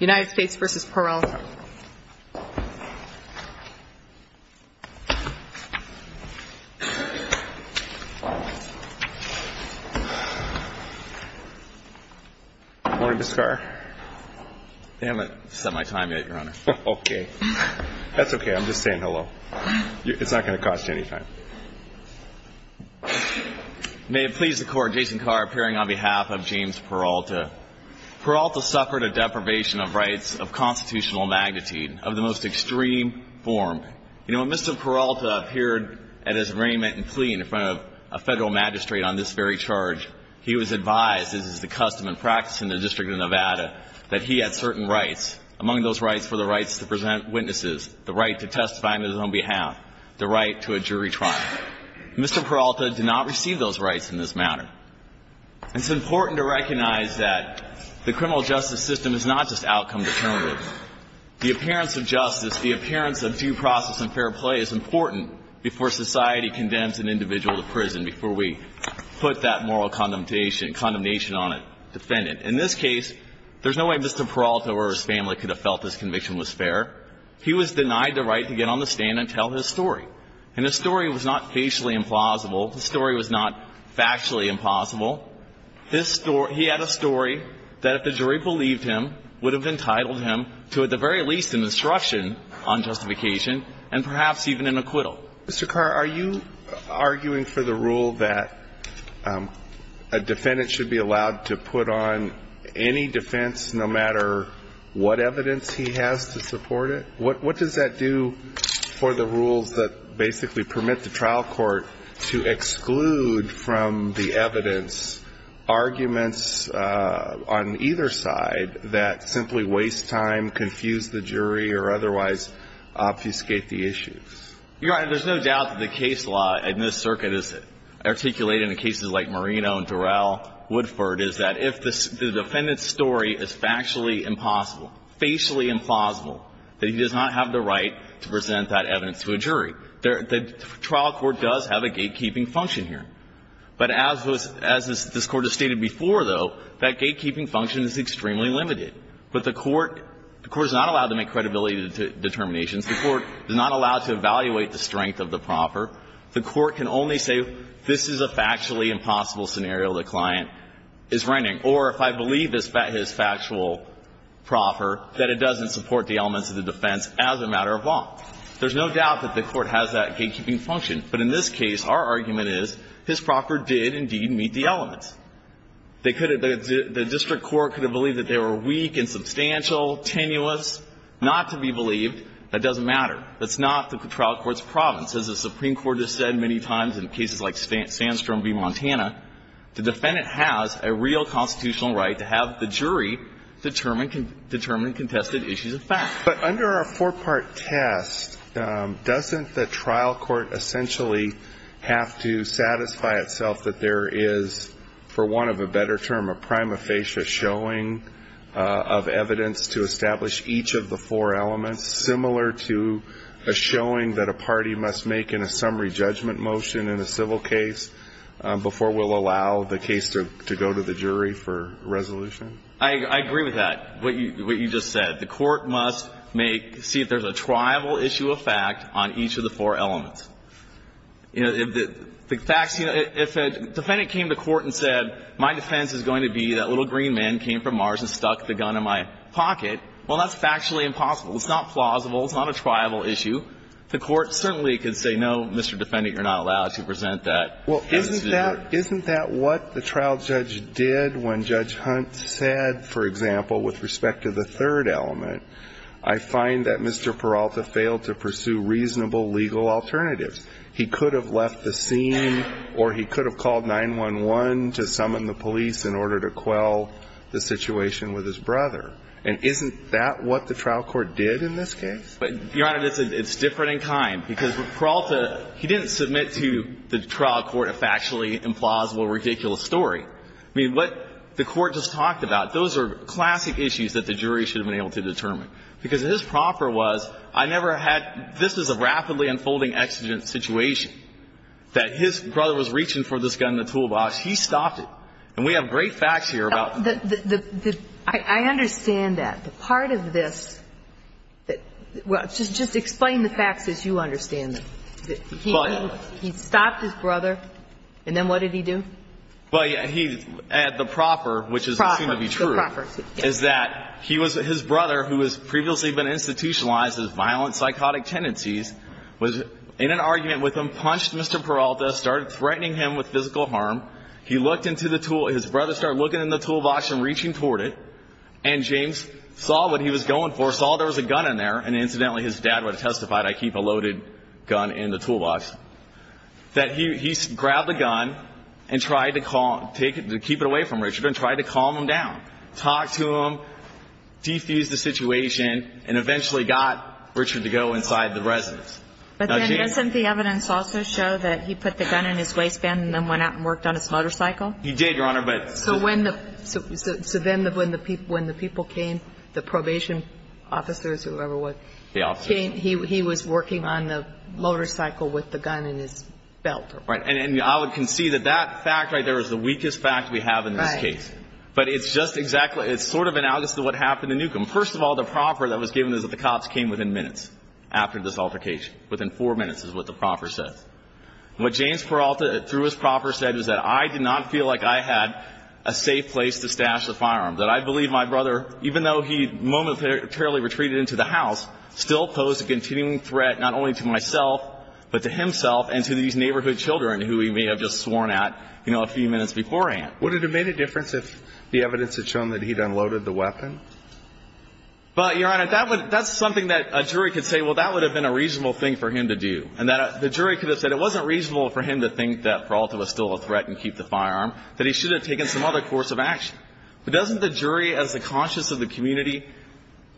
United States v. Peralta May it please the Court, Jason Carr appearing on behalf of James Peralta. Peralta suffered a deprivation of rights of constitutional magnitude, of the most extreme form. You know, when Mr. Peralta appeared at his arraignment and plea in front of a federal magistrate on this very charge, he was advised, as is the custom and practice in the District of Nevada, that he had certain rights. Among those rights were the rights to present witnesses, the right to testify on his own behalf, the right to a jury trial. Mr. Peralta did not receive those rights in this manner. And it's important to recognize that the criminal justice system is not just outcome determinative. The appearance of justice, the appearance of due process and fair play is important before society condemns an individual to prison, before we put that moral condemnation on a defendant. In this case, there's no way Mr. Peralta or his family could have felt this conviction was fair. He was denied the right to get on the stand and tell his story. And his story was not facially implausible. His story was not factually impossible. His story – he had a story that if the jury believed him would have entitled him to at the very least an instruction on justification and perhaps even an acquittal. Mr. Carr, are you arguing for the rule that a defendant should be allowed to put on any defense no matter what evidence he has to support it? What does that do for the rules that basically permit the trial court to exclude from the evidence arguments on either side that simply waste time, confuse the jury or otherwise obfuscate the issue? Your Honor, there's no doubt that the case law in this circuit is articulated in cases like Marino and Durell-Woodford is that if the defendant's story is factually impossible, facially implausible, that he does not have the right to present that evidence to a jury. The trial court does have a gatekeeping function here. But as was – as this Court has stated before, though, that gatekeeping function is extremely limited. But the Court – the Court is not allowed to make credibility determinations. The Court is not allowed to evaluate the strength of the proffer. The Court can only say this is a factually impossible scenario the client is running, or if I believe his factual proffer, that it doesn't support the elements of the defense as a matter of law. There's no doubt that the Court has that gatekeeping function. But in this case, our argument is his proffer did indeed meet the elements. They could have – the district court could have believed that they were weak and substantial, tenuous, not to be believed. That doesn't matter. That's not the trial court's problem. As the Supreme Court has said many times in cases like Sandstrom v. Montana, the defendant has a real constitutional right to have the jury determine contested issues of fact. But under our four-part test, doesn't the trial court essentially have to satisfy itself that there is, for want of a better term, a prima facie showing of evidence to establish each of the four elements, similar to a showing that a party must make in a summary judgment motion in a civil case before we'll allow the case to go to the jury for resolution? I agree with that, what you just said. The Court must make – see if there's a triable issue of fact on each of the four elements. You know, if the facts – if a defendant came to court and said, my defense is going to be that little green man came from Mars and stuck the gun in my pocket, well, that's factually impossible. It's not plausible. It's not a triable issue. The Court certainly could say, no, Mr. Defendant, you're not allowed to present that. Well, isn't that what the trial judge did when Judge Hunt said, for example, with respect to the third element, I find that Mr. Peralta failed to pursue reasonable legal alternatives. He could have left the scene or he could have called 911 to summon the police in order to quell the situation with his brother. And isn't that what the trial court did in this case? Your Honor, it's different in kind. Because with Peralta, he didn't submit to the trial court a factually implausible, ridiculous story. I mean, what the Court just talked about, those are classic issues that the jury should have been able to determine. Because his proffer was, I never had – this is a rapidly unfolding exigent situation that his brother was reaching for this gun in the toolbox. He stopped it. And we have great facts here about the – I understand that. The part of this that – well, just explain the facts as you understand them. He stopped his brother. And then what did he do? Well, he – the proffer, which is assumed to be true, is that he was – his brother, who has previously been institutionalized as violent, psychotic tendencies, was in an argument with him, punched Mr. Peralta, started threatening him with physical He looked into the tool – his brother started looking in the toolbox and reaching toward it. And James saw what he was going for, saw there was a gun in there – and incidentally, his dad would have testified, I keep a loaded gun in the toolbox – that he grabbed the gun and tried to call – to keep it away from Richard and tried to calm him down. Talked to him, defused the situation, and eventually got Richard to go inside the residence. But then doesn't the evidence also show that he put the gun in his waistband and then went out and worked on his motorcycle? He did, Your Honor, but – So when the – so then when the people came, the probation officers, whoever it was – The officers. He was working on the motorcycle with the gun in his belt. Right. And I would concede that that fact right there is the weakest fact we have in this case. Right. But it's just exactly – it's sort of analogous to what happened in Newcomb. First of all, the proffer that was given is that the cops came within minutes after this altercation. Within four minutes is what the proffer says. What James Peralta, through his proffer, said is that, I did not feel like I had a safe place to stash the firearm. That I believe my brother, even though he momentarily retreated into the house, still posed a continuing threat not only to myself, but to himself and to these neighborhood children who he may have just sworn at, you know, a few minutes beforehand. Would it have made a difference if the evidence had shown that he'd unloaded the weapon? Well, Your Honor, that would – that's something that a jury could say, well, that would have been a reasonable thing for him to do. And that the jury could have said it wasn't reasonable for him to think that Peralta was still a threat and keep the firearm, that he should have taken some other course of action. But doesn't the jury, as the conscience of the community,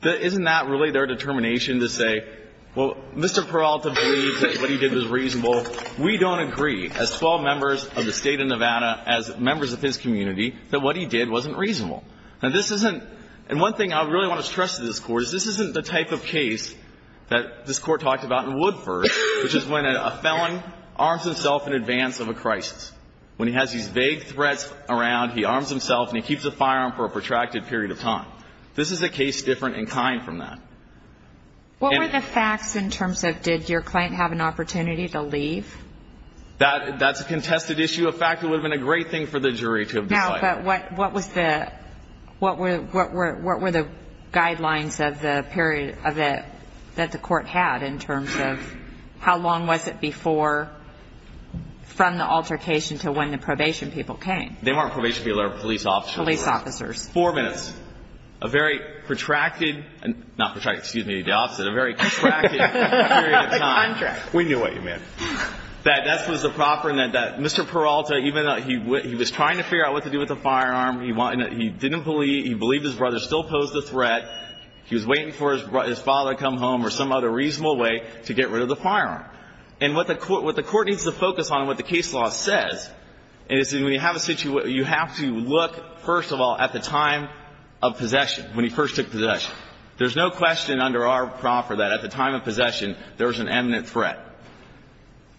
isn't that really their determination to say, well, Mr. Peralta believes that what he did was reasonable. We don't agree, as 12 members of the State of Nevada, as members of his community, that what he did wasn't reasonable. Now, this isn't – and one thing I really want to stress to this Court is this isn't the type of case that this Court talked about in Woodford, which is when a felon arms himself in advance of a crisis. When he has these vague threats around, he arms himself and he keeps a firearm for a protracted period of time. This is a case different in kind from that. What were the facts in terms of did your client have an opportunity to leave? That's a contested issue, a fact that would have been a great thing for the jury to have decided. But what was the – what were the guidelines of the period of the – that the Court had in terms of how long was it before from the altercation to when the probation people came? They weren't probation people. They were police officers. Police officers. Four minutes. A very protracted – not protracted, excuse me, the opposite. A very protracted period of time. Contract. We knew what you meant. That that was the proffer and that Mr. Peralta, even though he was trying to figure out what to do with the firearm, he didn't believe – he believed his brother still posed a threat. He was waiting for his father to come home or some other reasonable way to get rid of the firearm. And what the Court needs to focus on and what the case law says is when you have a situation, you have to look, first of all, at the time of possession, when he first took possession. There's no question under our proffer that at the time of possession, there was an eminent threat.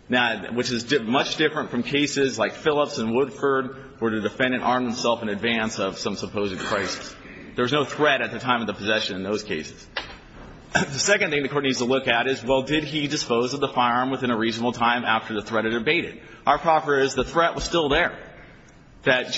Now, which is much different from cases like Phillips and Woodford where the defendant armed himself in advance of some supposed crisis. There was no threat at the time of the possession in those cases. The second thing the Court needs to look at is, well, did he dispose of the firearm within a reasonable time after the threat had abated? Our proffer is the threat was still there, that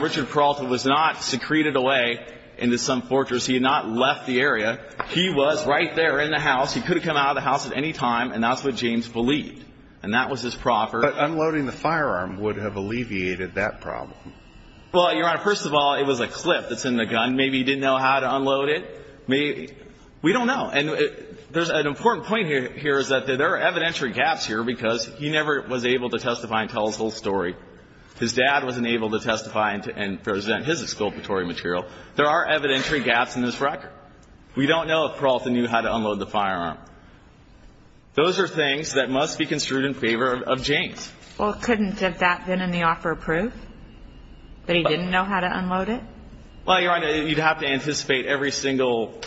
Richard Peralta was not secreted away into some fortress. He had not left the area. He was right there in the house. He could have come out of the house at any time, and that's what James believed. And that was his proffer. But unloading the firearm would have alleviated that problem. Well, Your Honor, first of all, it was a clip that's in the gun. Maybe he didn't know how to unload it. Maybe. We don't know. And there's an important point here is that there are evidentiary gaps here because he never was able to testify and tell his whole story. His dad wasn't able to testify and present his exculpatory material. There are evidentiary gaps in this record. We don't know if Peralta knew how to unload the firearm. Those are things that must be construed in favor of James. Well, couldn't have that been in the offer of proof, that he didn't know how to unload it? Well, Your Honor, you'd have to anticipate every single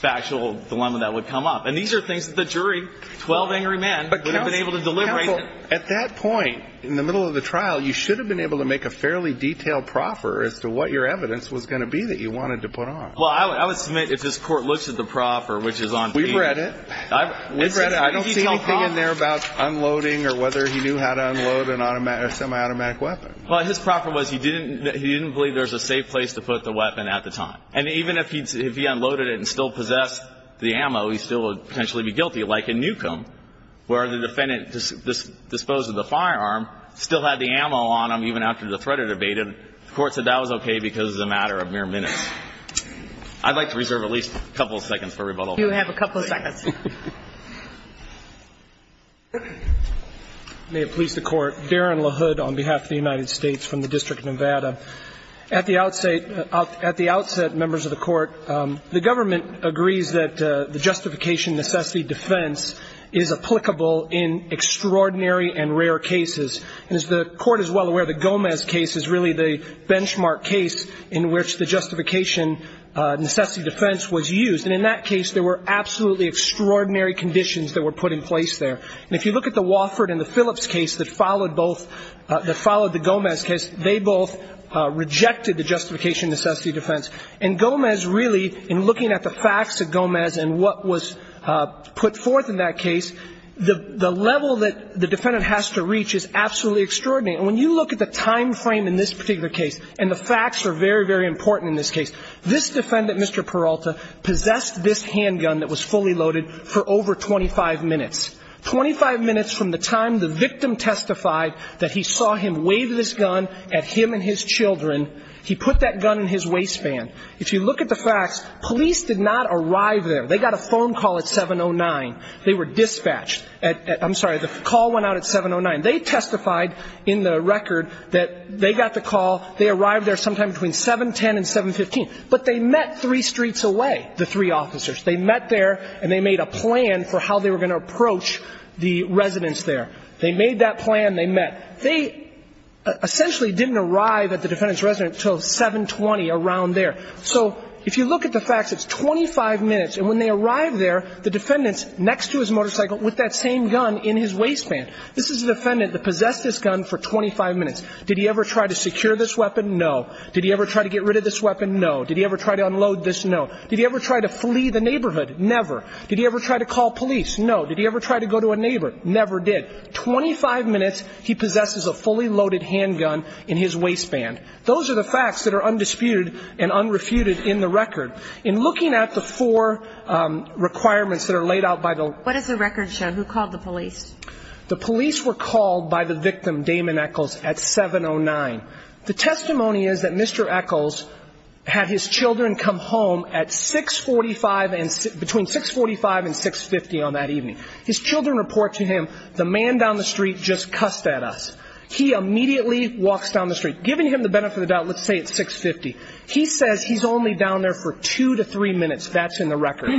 factual dilemma that would come up. And these are things that the jury, 12 angry men, would have been able to deliberate. Counsel, at that point in the middle of the trial, you should have been able to make a fairly detailed proffer as to what your evidence was going to be that you wanted to put on. Well, I would submit, if this Court looks at the proffer, which is on paper. We've read it. We've read it. I don't see anything in there about unloading or whether he knew how to unload a semiautomatic weapon. Well, his proffer was he didn't believe there was a safe place to put the weapon at the time. And even if he unloaded it and still possessed the ammo, he still would potentially be guilty, like in Newcomb, where the defendant disposed of the firearm, still had the ammo on him even after the threat had evaded him. The Court said that was okay because it was a matter of mere minutes. I'd like to reserve at least a couple of seconds for rebuttal. You have a couple of seconds. May it please the Court. Darren LaHood on behalf of the United States from the District of Nevada. At the outset, members of the Court, the government agrees that the justification necessity defense is applicable in extraordinary and rare cases. And as the Court is well aware, the Gomez case is really the benchmark case in which the justification necessity defense was used. And in that case, there were absolutely extraordinary conditions that were put in place there. And if you look at the Wofford and the Phillips case that followed both, that followed the Gomez case, they both rejected the justification necessity defense. And Gomez really, in looking at the facts of Gomez and what was put forth in that case, the level that the defendant has to reach is absolutely extraordinary. And when you look at the time frame in this particular case, and the facts are very, very important in this case, this defendant, Mr. Peralta, possessed this handgun that was fully loaded for over 25 minutes. Twenty-five minutes from the time the victim testified that he saw him wave this gun at him and his children, he put that gun in his waistband. If you look at the facts, police did not arrive there. They got a phone call at 7-09. They were dispatched. I'm sorry. The call went out at 7-09. They testified in the record that they got the call. They arrived there sometime between 7-10 and 7-15. But they met three streets away, the three officers. They met there, and they made a plan for how they were going to approach the residents there. They made that plan. They met. They essentially didn't arrive at the defendant's residence until 7-20, around there. So if you look at the facts, it's 25 minutes, and when they arrived there, the defendant's next to his motorcycle with that same gun in his waistband. This is a defendant that possessed this gun for 25 minutes. Did he ever try to secure this weapon? No. Did he ever try to get rid of this weapon? No. Did he ever try to unload this? No. Did he ever try to flee the neighborhood? Never. Did he ever try to call police? No. Did he ever try to go to a neighbor? Never did. Twenty-five minutes, he possesses a fully loaded handgun in his waistband. Those are the facts that are undisputed and unrefuted in the record. In looking at the four requirements that are laid out by the... What does the record show? Who called the police? The police were called by the victim, Damon Echols, at 7-09. The testimony is that Mr. Echols had his children come home at 6-45, between 6-45 and 6-50 on that evening. His children report to him, the man down the street just cussed at us. He immediately walks down the street. Given him the benefit of the doubt, let's say it's 6-50. He says he's only down there for two to three minutes. That's in the record.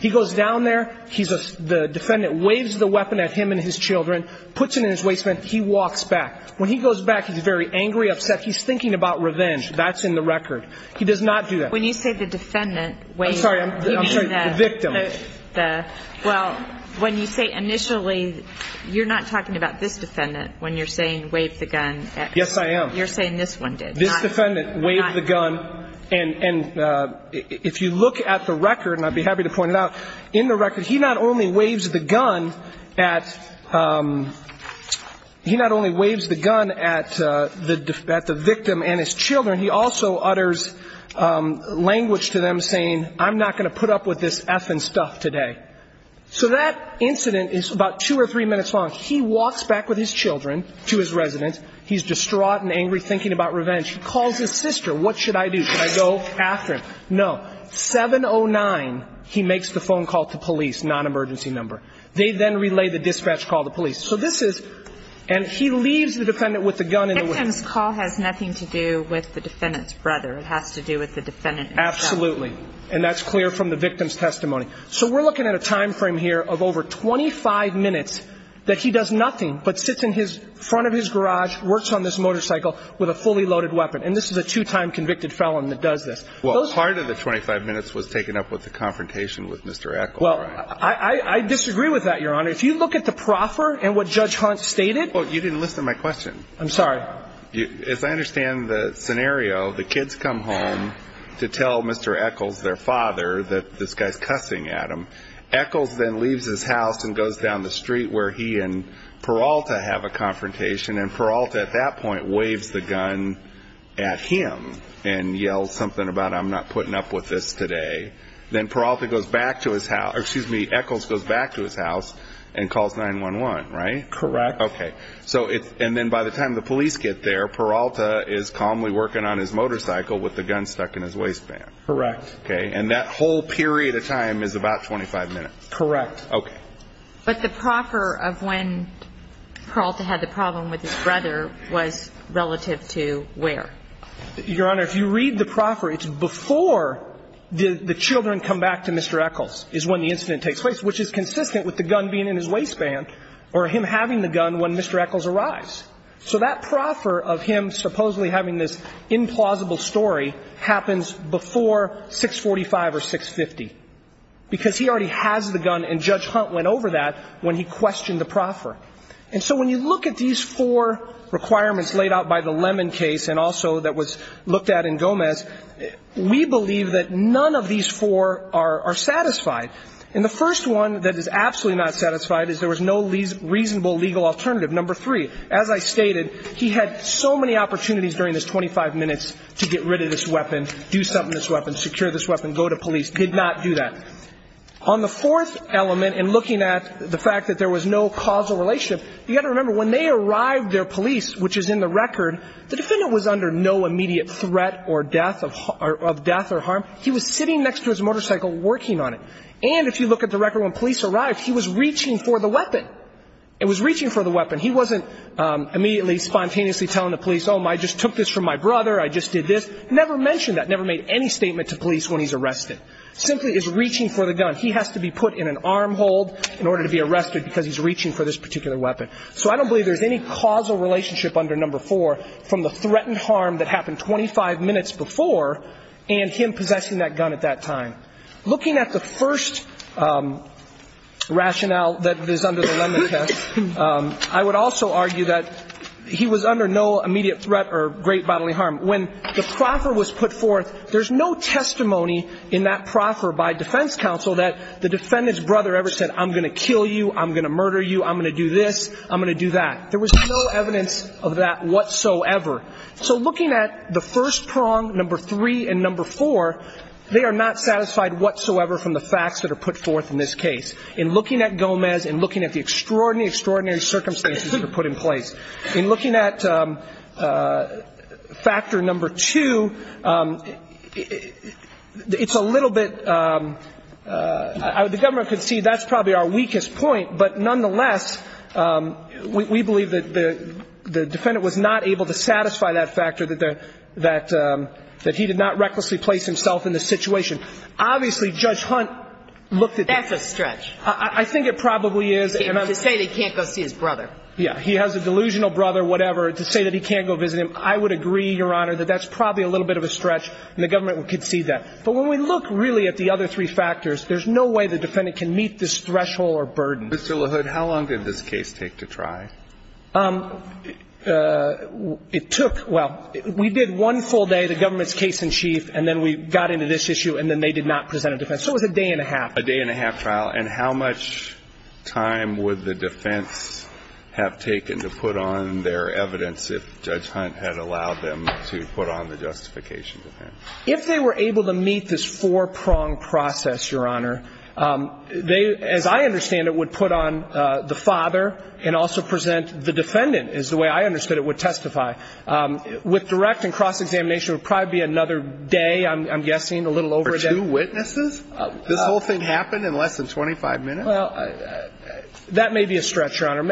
He goes down there. The defendant waves the weapon at him and his children, puts it in his waistband. He walks back. When he goes back, he's very angry, upset. He's thinking about revenge. That's in the record. He does not do that. When you say the defendant waves... I'm sorry. I'm sorry. The victim. Well, when you say initially, you're not talking about this defendant when you're saying wave the gun. Yes, I am. You're saying this one did. This defendant waved the gun, and if you look at the record, and I'd be happy to point it out, in the record, he not only waves the gun at the victim and his children, he also utters language to them saying, I'm not going to put up with this effing stuff today. So that incident is about two or three minutes long. He walks back with his children to his residence. He's distraught and angry, thinking about revenge. He calls his sister. What should I do? Should I go after him? No. 7-0-9, he makes the phone call to police, non-emergency number. They then relay the dispatch call to police. So this is, and he leaves the defendant with the gun. The victim's call has nothing to do with the defendant's brother. It has to do with the defendant himself. Absolutely. And that's clear from the victim's testimony. So we're looking at a time frame here of over 25 minutes that he does nothing but sits in front of his garage, works on this motorcycle with a fully loaded weapon. And this is a two-time convicted felon that does this. Well, part of the 25 minutes was taken up with the confrontation with Mr. Echols. Well, I disagree with that, Your Honor. If you look at the proffer and what Judge Hunt stated. You didn't listen to my question. I'm sorry. As I understand the scenario, the kids come home to tell Mr. Echols, their father, that this guy's cussing at them. Echols then leaves his house and goes down the street where he and Peralta have a confrontation, and Peralta at that point waves the gun at him and yells something about, I'm not putting up with this today. Then Peralta goes back to his house, or excuse me, Echols goes back to his house and calls 911, right? Correct. Okay. And then by the time the police get there, Peralta is calmly working on his motorcycle with the gun stuck in his waistband. Correct. Okay. And that whole period of time is about 25 minutes. Correct. Okay. But the proffer of when Peralta had the problem with his brother was relative to where? Your Honor, if you read the proffer, it's before the children come back to Mr. Echols is when the incident takes place, which is consistent with the gun being in his waistband or him having the gun when Mr. Echols arrives. So that proffer of him supposedly having this implausible story happens before 645 or 650, because he already has the gun and Judge Hunt went over that when he questioned the proffer. And so when you look at these four requirements laid out by the Lemon case and also that was looked at in Gomez, we believe that none of these four are satisfied. And the first one that is absolutely not satisfied is there was no reasonable legal alternative. Number three, as I stated, he had so many opportunities during those 25 minutes to get rid of this weapon, do something to this weapon, secure this weapon, go to police, did not do that. On the fourth element, in looking at the fact that there was no causal relationship, you've got to remember when they arrived, their police, which is in the record, the defendant was under no immediate threat or death of harm. He was sitting next to his motorcycle working on it. And if you look at the record when police arrived, he was reaching for the weapon. He was reaching for the weapon. He wasn't immediately spontaneously telling the police, oh, I just took this from my brother, I just did this. Never mentioned that, never made any statement to police when he's arrested. Simply is reaching for the gun. He has to be put in an arm hold in order to be arrested because he's reaching for this particular weapon. So I don't believe there's any causal relationship under number four from the threatened harm that happened 25 minutes before and him possessing that gun at that time. Looking at the first rationale that is under the Lemon Test, I would also argue that he was under no immediate threat or great bodily harm. When the proffer was put forth, there's no testimony in that proffer by defense counsel that the defendant's brother ever said, I'm going to kill you, I'm going to murder you, I'm going to do this, I'm going to do that. There was no evidence of that whatsoever. So looking at the first prong, number three and number four, they are not satisfied whatsoever from the facts that are put forth in this case. In looking at Gomez and looking at the extraordinary, extraordinary circumstances that are put in place. In looking at factor number two, it's a little bit ‑‑ the government could see that's probably our weakest point, but nonetheless, we believe that the defendant was not able to satisfy that factor, that he did not recklessly place himself in this situation. Obviously, Judge Hunt looked at this. That's a stretch. I think it probably is. To say they can't go see his brother. Yeah. He has a delusional brother, whatever, to say that he can't go visit him. I would agree, Your Honor, that that's probably a little bit of a stretch and the government could see that. But when we look really at the other three factors, there's no way the defendant can meet this threshold or burden. Mr. LaHood, how long did this case take to try? It took ‑‑ well, we did one full day, the government's case in chief, and then we got into this issue and then they did not present a defense. So it was a day and a half. A day and a half trial. And how much time would the defense have taken to put on their evidence if Judge Hunt had allowed them to put on the justification defense? If they were able to meet this four‑prong process, Your Honor, as I understand it, would put on the father and also present the defendant, is the way I understood it, would testify. With direct and cross‑examination, it would probably be another day, I'm guessing, a little over a day. For two witnesses? This whole thing happened in less than 25 minutes? Well, that may be a stretch, Your Honor.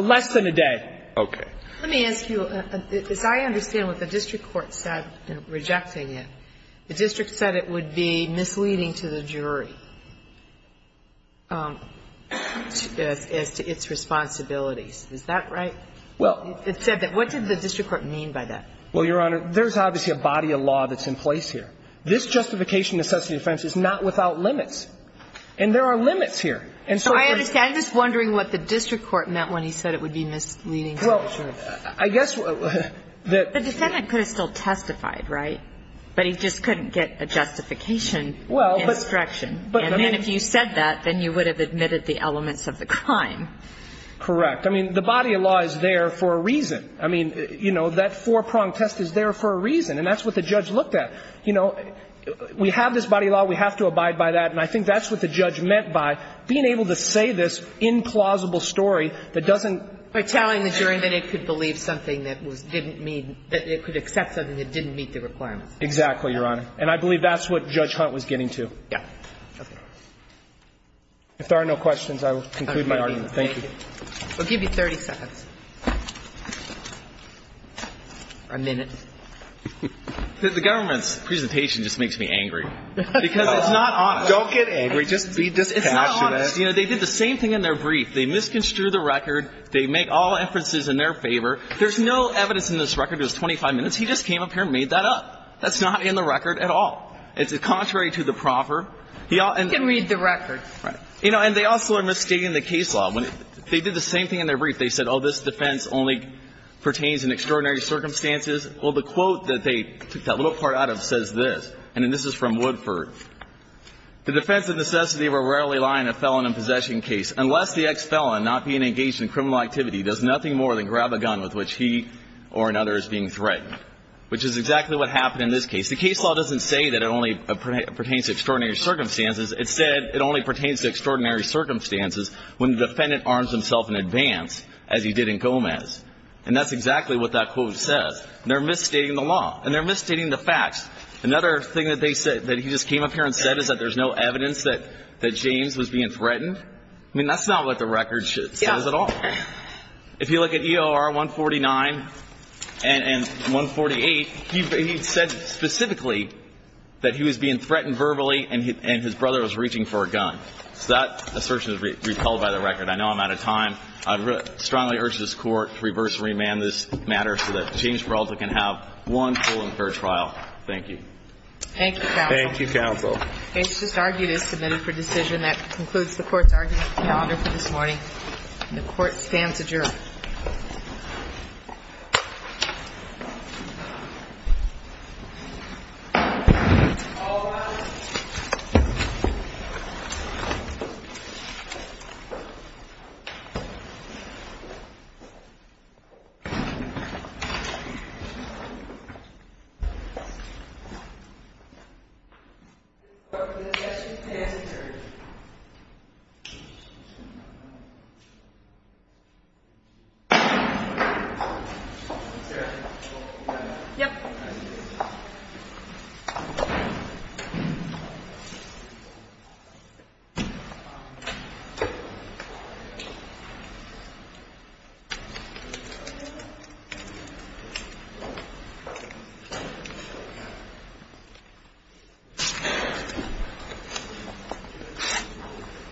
Less than a day. Okay. Let me ask you, as I understand what the district court said in rejecting it, the district said it would be misleading to the jury as to its responsibilities. Is that right? Well ‑‑ It said that. What did the district court mean by that? Well, Your Honor, there's obviously a body of law that's in place here. This justification necessity defense is not without limits. And there are limits here. So I understand. I'm just wondering what the district court meant when he said it would be misleading to the jury. Well, I guess that ‑‑ The defendant could have still testified, right? But he just couldn't get a justification instruction. And then if you said that, then you would have admitted the elements of the crime. Correct. I mean, the body of law is there for a reason. I mean, you know, that four‑prong test is there for a reason. And that's what the judge looked at. You know, we have this body of law. We have to abide by that. And I think that's what the judge meant by being able to say this implausible story that doesn't ‑‑ By telling the jury that it could believe something that didn't mean ‑‑ that it could accept something that didn't meet the requirements. Exactly, Your Honor. And I believe that's what Judge Hunt was getting to. Yeah. Okay. If there are no questions, I will conclude my argument. Thank you. Thank you. We'll give you 30 seconds. Or a minute. The government's presentation just makes me angry. Because it's not honest. Don't get angry. Just be dispassionate. It's not honest. You know, they did the same thing in their brief. They misconstrued the record. They make all inferences in their favor. There's no evidence in this record. It was 25 minutes. He just came up here and made that up. That's not in the record at all. It's contrary to the proverb. You can read the record. Right. You know, and they also are misstating the case law. When they did the same thing in their brief, they said, oh, this defense only pertains in extraordinary circumstances. Well, the quote that they took that little part out of says this, and then this is from Woodford. The defense of necessity of a rarely lying and felon in possession case, unless the ex-felon not being engaged in criminal activity does nothing more than grab a gun with which he or another is being threatened. Which is exactly what happened in this case. The case law doesn't say that it only pertains to extraordinary circumstances. It said it only pertains to extraordinary circumstances when the defendant arms himself in advance, as he did in Gomez. And that's exactly what that quote says. And they're misstating the law. And they're misstating the facts. Another thing that they said, that he just came up here and said, is that there's no evidence that James was being threatened. I mean, that's not what the record says at all. If you look at EOR 149 and 148, he said specifically that he was being threatened verbally and his brother was reaching for a gun. So that assertion is repelled by the record. I know I'm out of time. I strongly urge this Court to reverse and remand this matter so that James Peralta can have one full and fair trial. Thank you. Thank you, Counsel. Thank you, Counsel. The case just argued is submitted for decision. That concludes the Court's argument calendar for this morning. The Court stands adjourned. The Court is adjourned. The Court is adjourned.